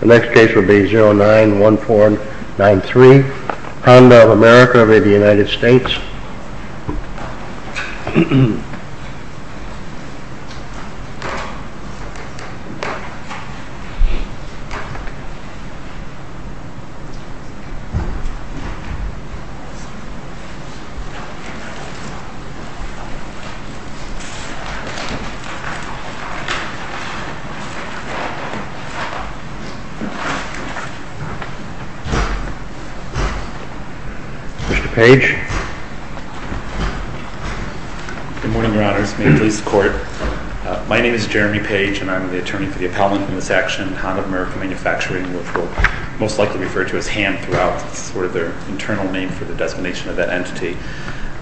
The next case will be 091493, Honda of America v. United States. Mr. Page. Good morning, your honors. May it please the court. My name is Jeremy Page and I'm the attorney for the appellant in this action, Honda of America Manufacturing, which we'll most likely refer to as HAND throughout. It's sort of their internal name for the designation of that entity.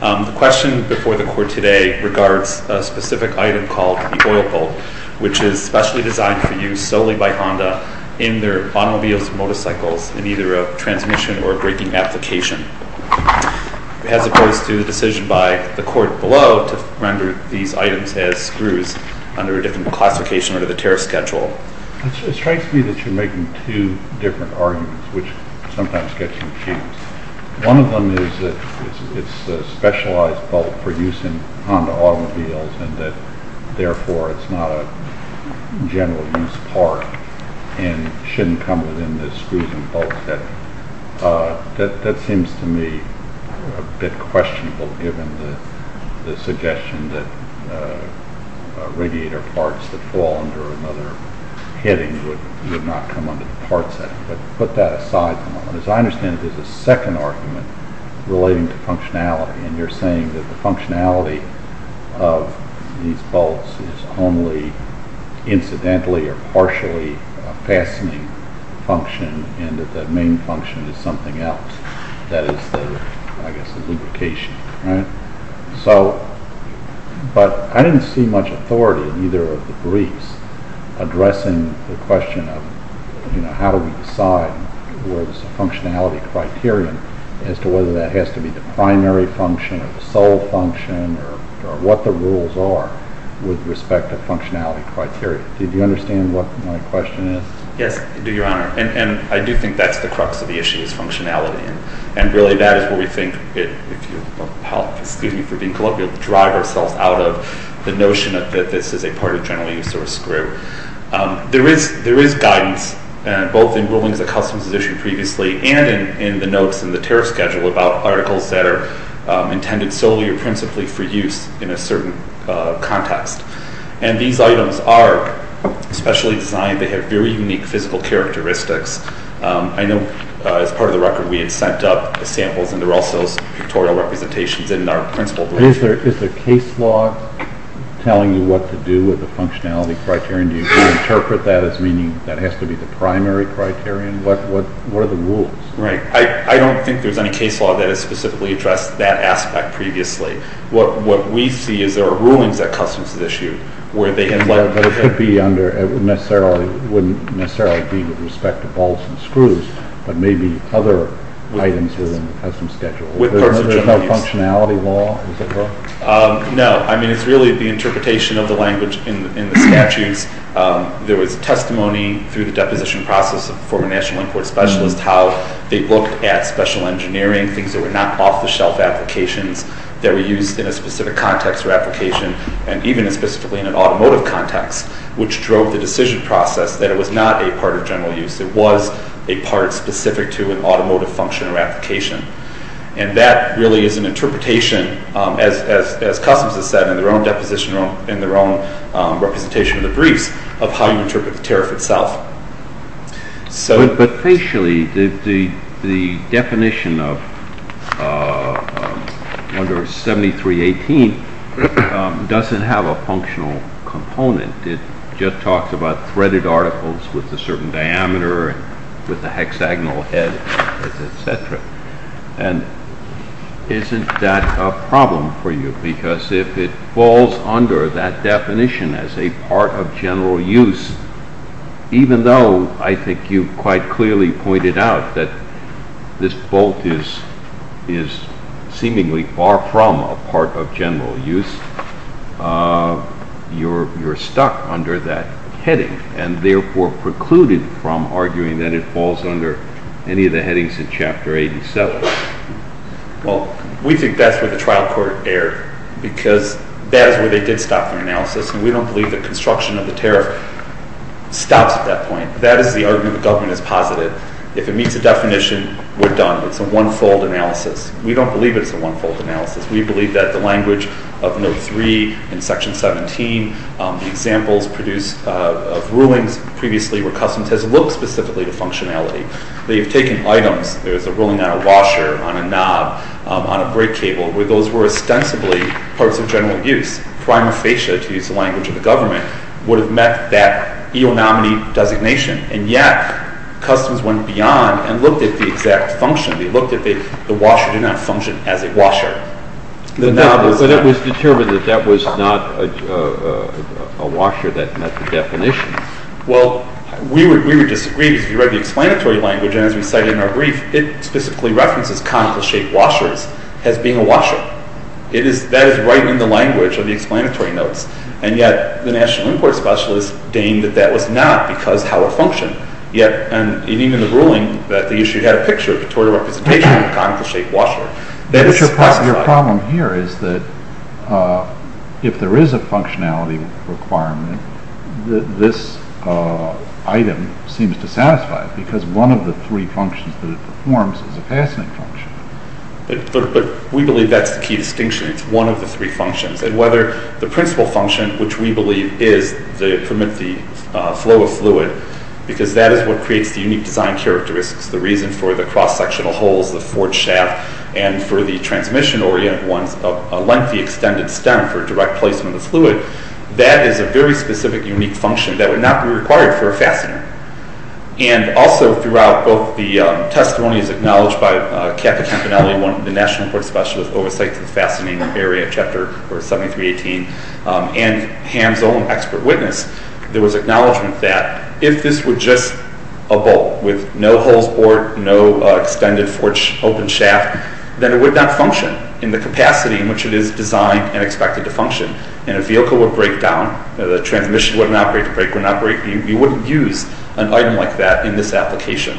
The question before the court today regards a specific item called the oil bolt, which is specially designed for use solely by Honda in their automobiles and motorcycles in either a transmission or a braking application, as opposed to the decision by the court below to render these items as screws under a different classification or the tariff schedule. Well, it strikes me that you're making two different arguments, which sometimes gets in the way. One of them is that it's a specialized bolt for use in Honda automobiles and that, therefore, it's not a general use part and shouldn't come within the screws and bolts. That seems to me a bit questionable, given the suggestion that radiator parts that fall under another heading would not come under the parts heading, but put that aside for the moment. As I understand it, there's a second argument relating to functionality, and you're saying that the functionality of these bolts is only incidentally or partially a fastening function and that the main function is something else. Yes, I do, Your Honor, and I do think that's the crux of the issue, is functionality. Really, that is where we think, if you'll excuse me for being colloquial, we'll drive ourselves out of the notion that this is a part of general use or a screw. There is guidance, both in rulings of custom position previously and in the notes in the tariff schedule about articles that are intended solely or principally for use in a certain context. These items are specially designed. They have very unique physical characteristics. I know, as part of the record, we had sent up samples, and there are also pictorial representations in our principled rules. Is there a case law telling you what to do with the functionality criterion? Do you interpret that as meaning that has to be the primary criterion? What are the rules? I don't think there's any case law that has specifically addressed that aspect previously. What we see is there are rulings that Customs has issued. But it wouldn't necessarily be with respect to bolts and screws, but maybe other items within the custom schedule. Is there no functionality law? No. I mean, it's really the interpretation of the language in the statutes. There was testimony through the deposition process of a former National Import Specialist how they looked at special engineering, things that were not off-the-shelf applications, that were used in a specific context or application, and even specifically in an automotive context, which drove the decision process that it was not a part of general use. It was a part specific to an automotive function or application. And that really is an interpretation, as Customs has said in their own deposition and their own representation of the briefs, of how you interpret the tariff itself. But facially, the definition of under 7318 doesn't have a functional component. It just talks about threaded articles with a certain diameter, with a hexagonal head, etc. And isn't that a problem for you? Because if it falls under that definition as a part of general use, even though I think you quite clearly pointed out that this bolt is seemingly far from a part of general use, you're stuck under that heading, and therefore precluded from arguing that it falls under any of the headings in Chapter 87. Well, we think that's where the trial court erred, because that is where they did stop their analysis, and we don't believe that construction of the tariff stops at that point. That is the argument the government is positive. If it meets the definition, we're done. It's a one-fold analysis. We don't believe it's a one-fold analysis. We believe that the language of Note 3 in Section 17, the examples produced of rulings previously where customs has looked specifically to functionality. They've taken items, there's a ruling on a washer, on a knob, on a brake cable, where those were ostensibly parts of general use. Prima facie, to use the language of the government, would have met that eonominy designation. And yet, customs went beyond and looked at the exact function. They looked at the washer did not function as a washer. But it was determined that that was not a washer that met the definition. Well, we would disagree. If you read the explanatory language, as we cited in our brief, it specifically references conical-shaped washers as being a washer. That is right in the language of the explanatory notes. And yet, the National Import Specialist deigned that that was not because how it functioned. And yet, even in the ruling, that the issue had a picture, a pictorial representation of a conical-shaped washer. Your problem here is that if there is a functionality requirement, this item seems to satisfy it because one of the three functions that it performs is a fastening function. But we believe that's the key distinction. It's one of the three functions. And whether the principal function, which we believe is to permit the flow of fluid, because that is what creates the unique design characteristics, the reason for the cross-sectional holes, the forged shaft, and for the transmission-oriented ones, a lengthy extended stem for direct placement of fluid, that is a very specific, unique function that would not be required for a fastener. And also, throughout both the testimonies acknowledged by Cathy Campanelli, one of the National Import Specialists, oversight of the fastening area, Chapter 7318, and Ham's own expert witness, there was acknowledgement that if this were just a bolt with no holes bored, no extended forged open shaft, then it would not function in the capacity in which it is designed and expected to function. And a vehicle would break down. The transmission would not break. You wouldn't use an item like that in this application.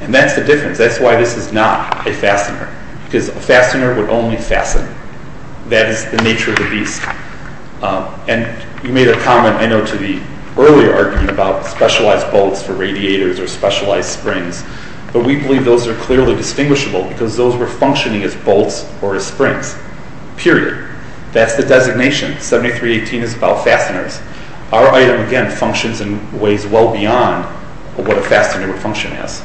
And that's the difference. That's why this is not a fastener. Because a fastener would only fasten. That is the nature of the beast. And you made a comment, I know, to the earlier argument about specialized bolts for radiators or specialized springs, but we believe those are clearly distinguishable because those were functioning as bolts or as springs. Period. That's the designation. 7318 is about fasteners. Our item, again, functions and weighs well beyond what a fastener would function as.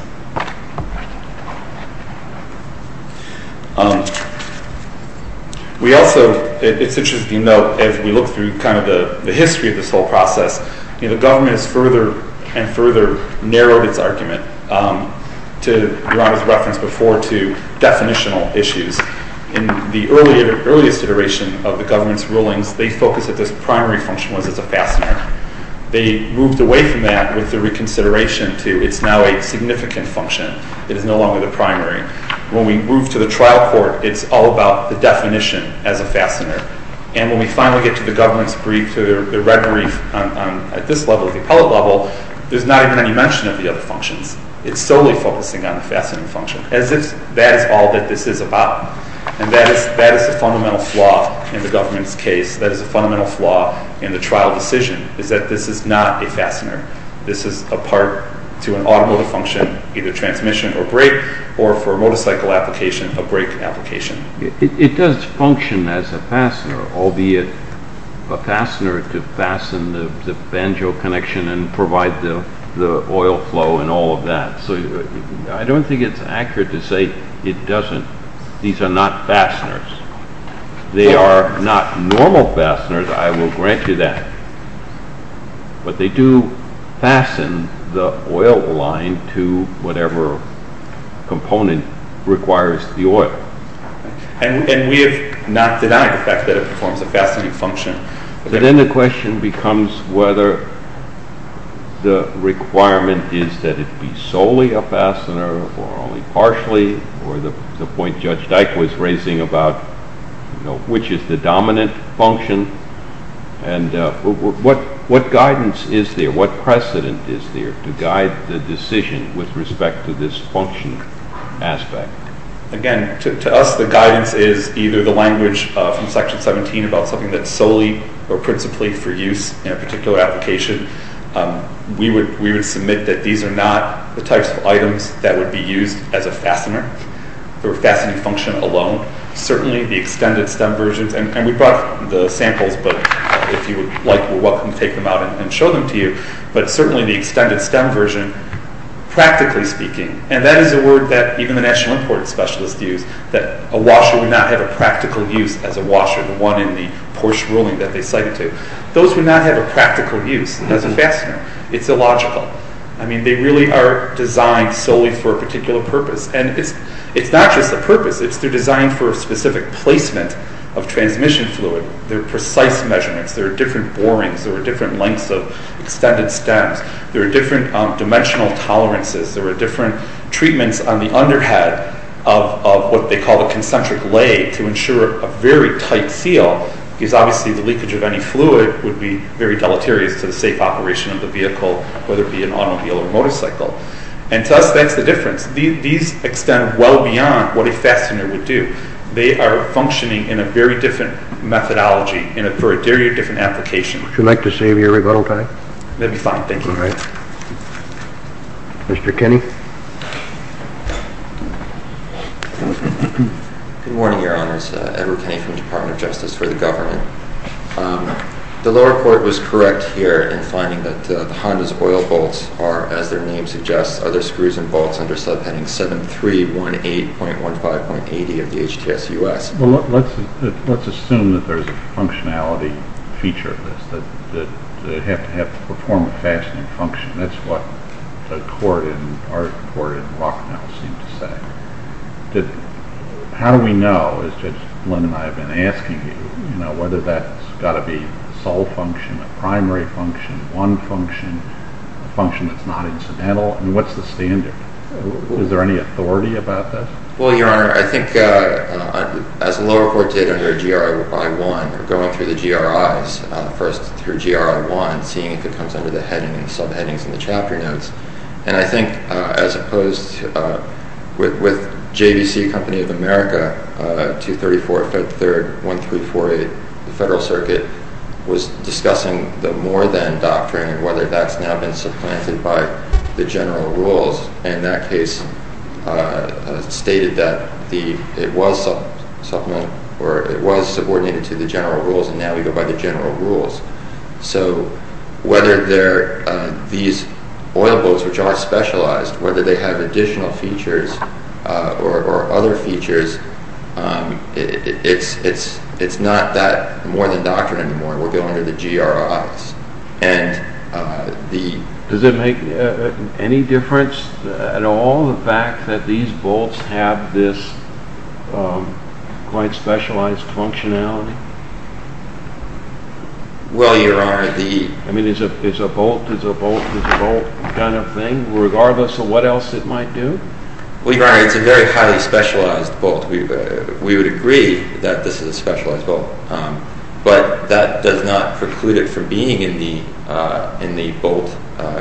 We also, it's interesting to note, as we look through kind of the history of this whole process, the government has further and further narrowed its argument, to Ron's reference before, to definitional issues. In the earliest iteration of the government's rulings, they focused that this primary function was as a fastener. They moved away from that with the reconsideration to it's now a significantly more significant function. It is no longer the primary. When we move to the trial court, it's all about the definition as a fastener. And when we finally get to the government's brief, to the red brief, at this level, the appellate level, there's not even any mention of the other functions. It's solely focusing on the fastener function, as if that is all that this is about. And that is the fundamental flaw in the government's case. That is the fundamental flaw in the trial decision, is that this is not a fastener. This is a part to an automotive function, either transmission or brake, or for a motorcycle application, a brake application. It does function as a fastener, albeit a fastener to fasten the banjo connection and provide the oil flow and all of that. So I don't think it's accurate to say it doesn't. These are not fasteners. They are not normal fasteners, I will grant you that. But they do fasten the oil line to whatever component requires the oil. And we have not denied the fact that it performs a fastening function. But then the question becomes whether the requirement is that it be solely a fastener or only partially, or the point Judge Dike was raising about which is the dominant function. And what guidance is there? What precedent is there to guide the decision with respect to this function aspect? Again, to us the guidance is either the language from Section 17 about something that is solely or principally for use in a particular application. We would submit that these are not the types of items that would be used as a fastener for a fastening function alone. Certainly the extended stem versions, and we brought the samples, but if you would like we're welcome to take them out and show them to you. But certainly the extended stem version, practically speaking, and that is a word that even the National Import Specialist used, that a washer would not have a practical use as a washer, the one in the Porsche ruling that they cited to. Those would not have a practical use as a fastener. It's illogical. I mean they really are designed solely for a particular purpose. And it's not just a purpose. It's designed for a specific placement of transmission fluid. They're precise measurements. There are different borings. There are different lengths of extended stems. There are different dimensional tolerances. There are different treatments on the under head of what they call a concentric lay to ensure a very tight seal because obviously the leakage of any fluid would be very deleterious to the safe operation of the vehicle, whether it be an automobile or motorcycle. And to us that's the difference. These extend well beyond what a fastener would do. They are functioning in a very different methodology for a very different application. Would you like to save your rebuttal time? That would be fine. Thank you. All right. Mr. Kinney. Good morning, Your Honors. Edward Kinney from the Department of Justice for the Government. The lower court was correct here in finding that the Honda's oil bolts are, as their name suggests, other screws and bolts under subheading 7318.15.80 of the HTSUS. Well, let's assume that there's a functionality feature of this, that they have to perform a fastening function. That's what the court in Rocknell seemed to say. How do we know, as Judge Flynn and I have been asking you, whether that's got to be a sole function, a primary function, one function, a function that's not incidental? And what's the standard? Is there any authority about that? Well, Your Honor, I think as the lower court did under GRI 1, going through the GRIs, first through GRI 1, seeing if it comes under the subheadings and the chapter notes. And I think as opposed with JVC Company of America 234.3.1348, the Federal Circuit was discussing the more than doctrine and whether that's now been supplanted by the general rules. And that case stated that it was subordinated to the general rules, and now we go by the general rules. So whether these oil bolts, which are specialized, whether they have additional features or other features, it's not that more than doctrine anymore. We're going to the GRIs. Does it make any difference at all, the fact that these bolts have this quite specialized functionality? Well, Your Honor, the... I mean, is a bolt is a bolt is a bolt kind of thing, regardless of what else it might do? Well, Your Honor, it's a very highly specialized bolt. We would agree that this is a specialized bolt. But that does not preclude it from being in the bolt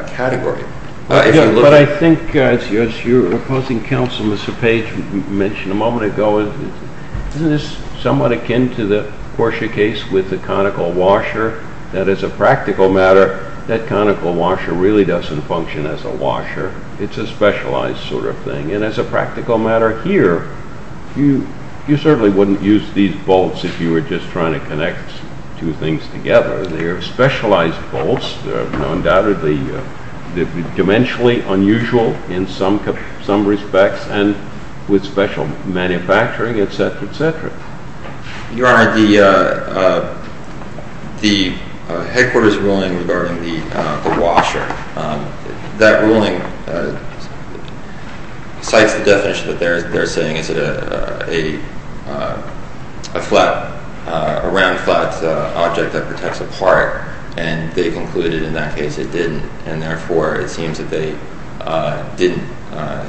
category. But I think, as your opposing counsel, Mr. Page, mentioned a moment ago, isn't this somewhat akin to the Portia case with the conical washer? That is a practical matter. That conical washer really doesn't function as a washer. It's a specialized sort of thing. And as a practical matter here, you certainly wouldn't use these bolts if you were just trying to connect two things together. They're specialized bolts. They're undoubtedly dimensionally unusual in some respects and with special manufacturing, et cetera, et cetera. Your Honor, the headquarters ruling regarding the washer, that ruling cites the definition that they're saying is a flat, a round, flat object that protects a part. And they concluded in that case it didn't, and therefore it seems that they didn't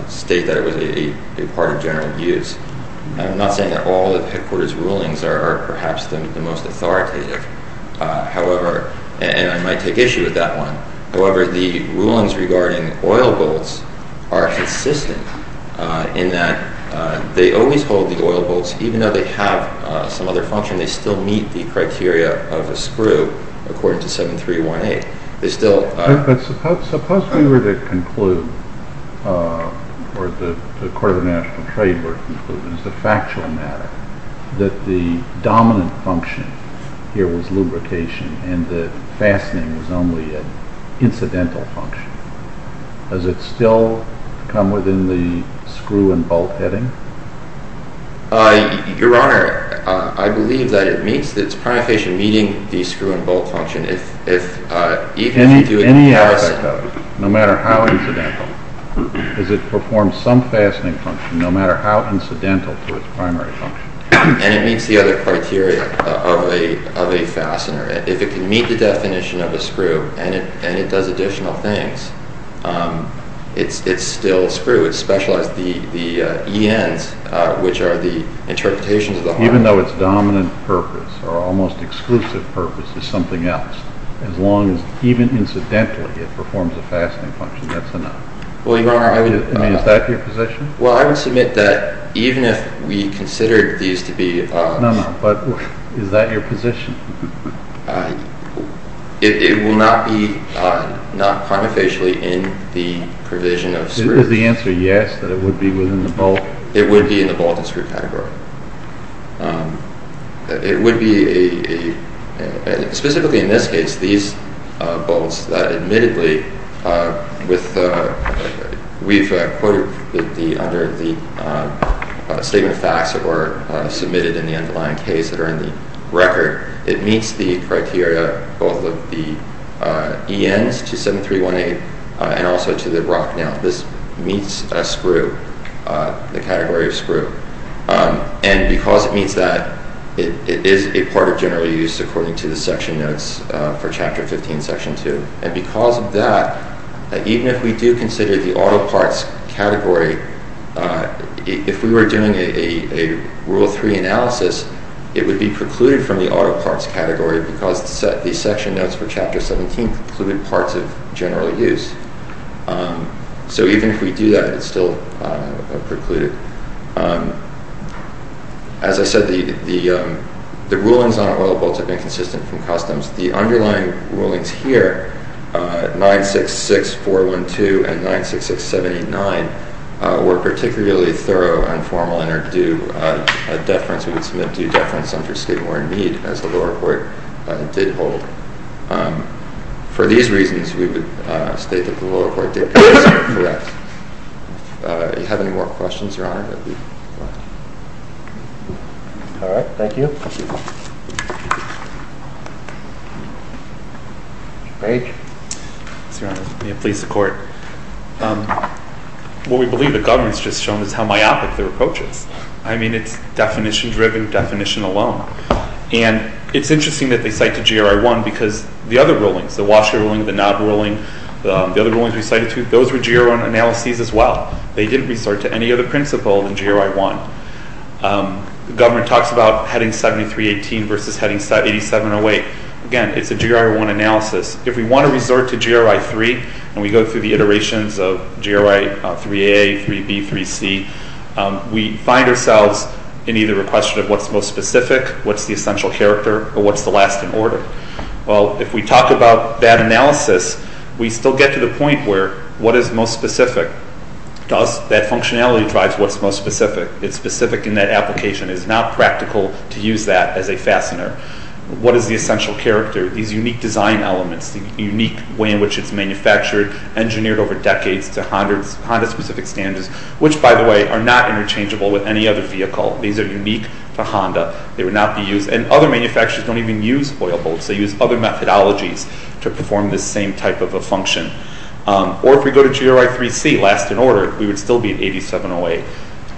state that it was a part of general use. I'm not saying that all of the headquarters rulings are perhaps the most authoritative. However, and I might take issue with that one. However, the rulings regarding oil bolts are consistent in that they always hold the oil bolts. Even though they have some other function, they still meet the criteria of a screw according to 7.318. But suppose we were to conclude, or the Court of National Trade were to conclude, as a factual matter, that the dominant function here was lubrication and the fastening was only an incidental function. Does it still come within the screw and bolt heading? Your Honor, I believe that it meets, that it's primarily meeting the screw and bolt function. Any aspect of it, no matter how incidental, does it perform some fastening function, no matter how incidental to its primary function? And it meets the other criteria of a fastener. If it can meet the definition of a screw and it does additional things, it's still a screw. It's specialized. The ENs, which are the interpretations of the hardware... Even though its dominant purpose or almost exclusive purpose is something else, as long as, even incidentally, it performs a fastening function, that's enough? Well, Your Honor, I would... I mean, is that your position? Well, I would submit that even if we considered these to be... No, no, but is that your position? It will not be, not cognitively, in the provision of screw. Is the answer yes, that it would be within the bolt? It would be in the bolt and screw category. It would be a... Specifically in this case, these bolts, admittedly, with... We've quoted under the statement of facts that were submitted in the underlying case that are in the record. It meets the criteria, both of the ENs to 731A and also to the rock mount. This meets a screw, the category of screw. And because it meets that, it is a part of general use, according to the section notes for Chapter 15, Section 2. And because of that, even if we do consider the auto parts category, if we were doing a Rule 3 analysis, it would be precluded from the auto parts category because the section notes for Chapter 17 include parts of general use. So even if we do that, it's still precluded. As I said, the rulings on oil bolts have been consistent from customs. The underlying rulings here, 966412 and 966789, were particularly thorough, informal, and are due a deference. We would submit due deference under state warrant need as the lower court did hold. For these reasons, we would state that the lower court did correct. If you have any more questions, Your Honor, that would be correct. All right. Thank you. Mr. Page. Yes, Your Honor. May it please the Court. What we believe the government's just shown is how myopic their approach is. I mean, it's definition-driven definition alone. And it's interesting that they cite the GRI-1 because the other rulings, the Walsh ruling, the Knob ruling, the other rulings we cited too, those were GRI-1 analyses as well. They didn't resort to any other principle than GRI-1. The government talks about heading 7318 versus heading 8708. Again, it's a GRI-1 analysis. If we want to resort to GRI-3 and we go through the iterations of GRI-3A, 3B, 3C, we find ourselves in either a question of what's most specific, what's the essential character, or what's the last in order. Well, if we talk about that analysis, we still get to the point where what is most specific? Thus, that functionality drives what's most specific. It's specific in that application. It's not practical to use that as a fastener. What is the essential character? These unique design elements, the unique way in which it's manufactured, engineered over decades to Honda-specific standards, which, by the way, are not interchangeable with any other vehicle. These are unique to Honda. They would not be used, and other manufacturers don't even use oil bolts. They use other methodologies to perform this same type of a function. Or if we go to GRI-3C, last in order, we would still be at 8708.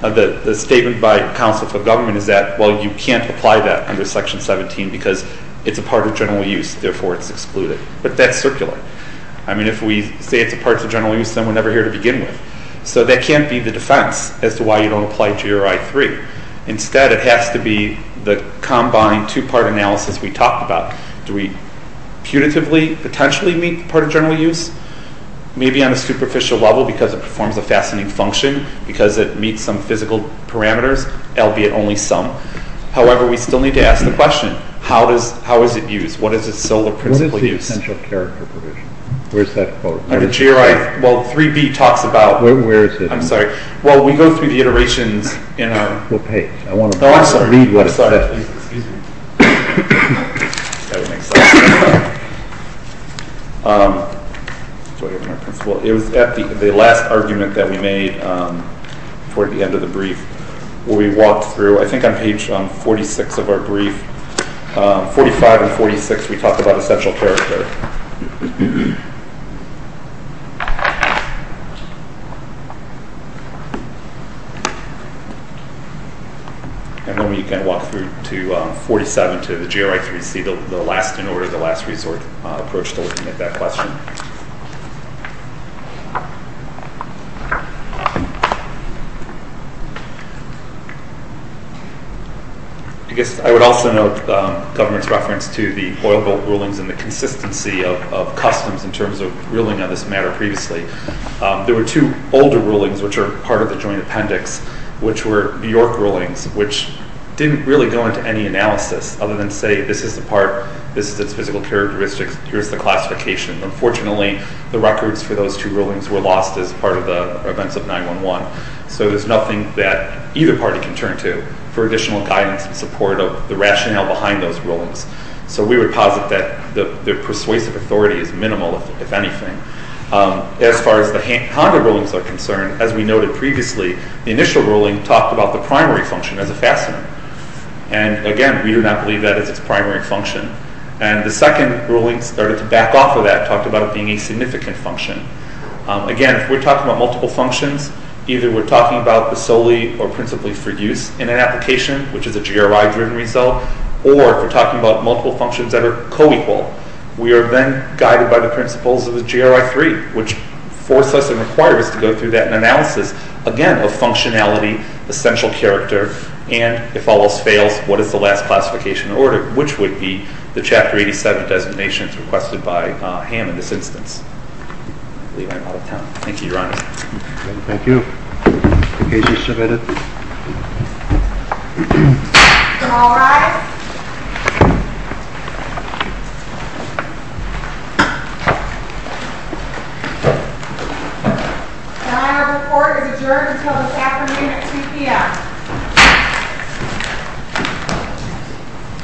The statement by counsel for government is that, well, you can't apply that under Section 17 because it's a part of general use. Therefore, it's excluded. But that's circular. I mean, if we say it's a part of general use, then we're never here to begin with. So that can't be the defense as to why you don't apply GRI-3. Instead, it has to be the combined two-part analysis we talked about. Do we punitively potentially meet part of general use? Maybe on a superficial level because it performs a fastening function, because it meets some physical parameters, albeit only some. However, we still need to ask the question, how is it used? What is its silver principle use? What is the essential character provision? Where's that quote? Under GRI, well, 3B talks about— Where is it? I'm sorry. Well, we go through the iterations in our— What page? I want to read what it says. Oh, I'm sorry. Excuse me. That would make sense. It was at the last argument that we made toward the end of the brief where we walked through, I think on page 46 of our brief, 45 and 46, we talked about essential character. And then we can walk through to 47 to the GRI-3C, the last in order, the last resort approach to looking at that question. I guess I would also note the government's reference to the boil vote rulings and the consistency of customs in terms of ruling on this matter previously. There were two older rulings, which are part of the joint appendix, which were New York rulings, which didn't really go into any analysis other than say, this is the part, this is its physical characteristics, here's the classification. Unfortunately, the records for those two rulings were lost as part of the events of 9-1-1. So there's nothing that either party can turn to for additional guidance and support of the rationale behind those rulings. So we would posit that the persuasive authority is minimal, if anything. As far as the Honda rulings are concerned, as we noted previously, the initial ruling talked about the primary function as a fastener. And again, we do not believe that is its primary function. And the second ruling started to back off of that, talked about it being a significant function. Again, if we're talking about multiple functions, either we're talking about the solely or principally for use in an application, which is a GRI-driven result, or if we're talking about multiple functions that are co-equal, we are then guided by the principles of the GRI-3, which forced us and required us to go through that analysis, again, of functionality, essential character, and if all else fails, what is the last classification order, which would be the Chapter 87 designations requested by Ham in this instance. I believe I'm out of time. Thank you, Your Honor. Thank you. The case is submitted. All rise. The Honorable Court is adjourned until this afternoon at 2 p.m.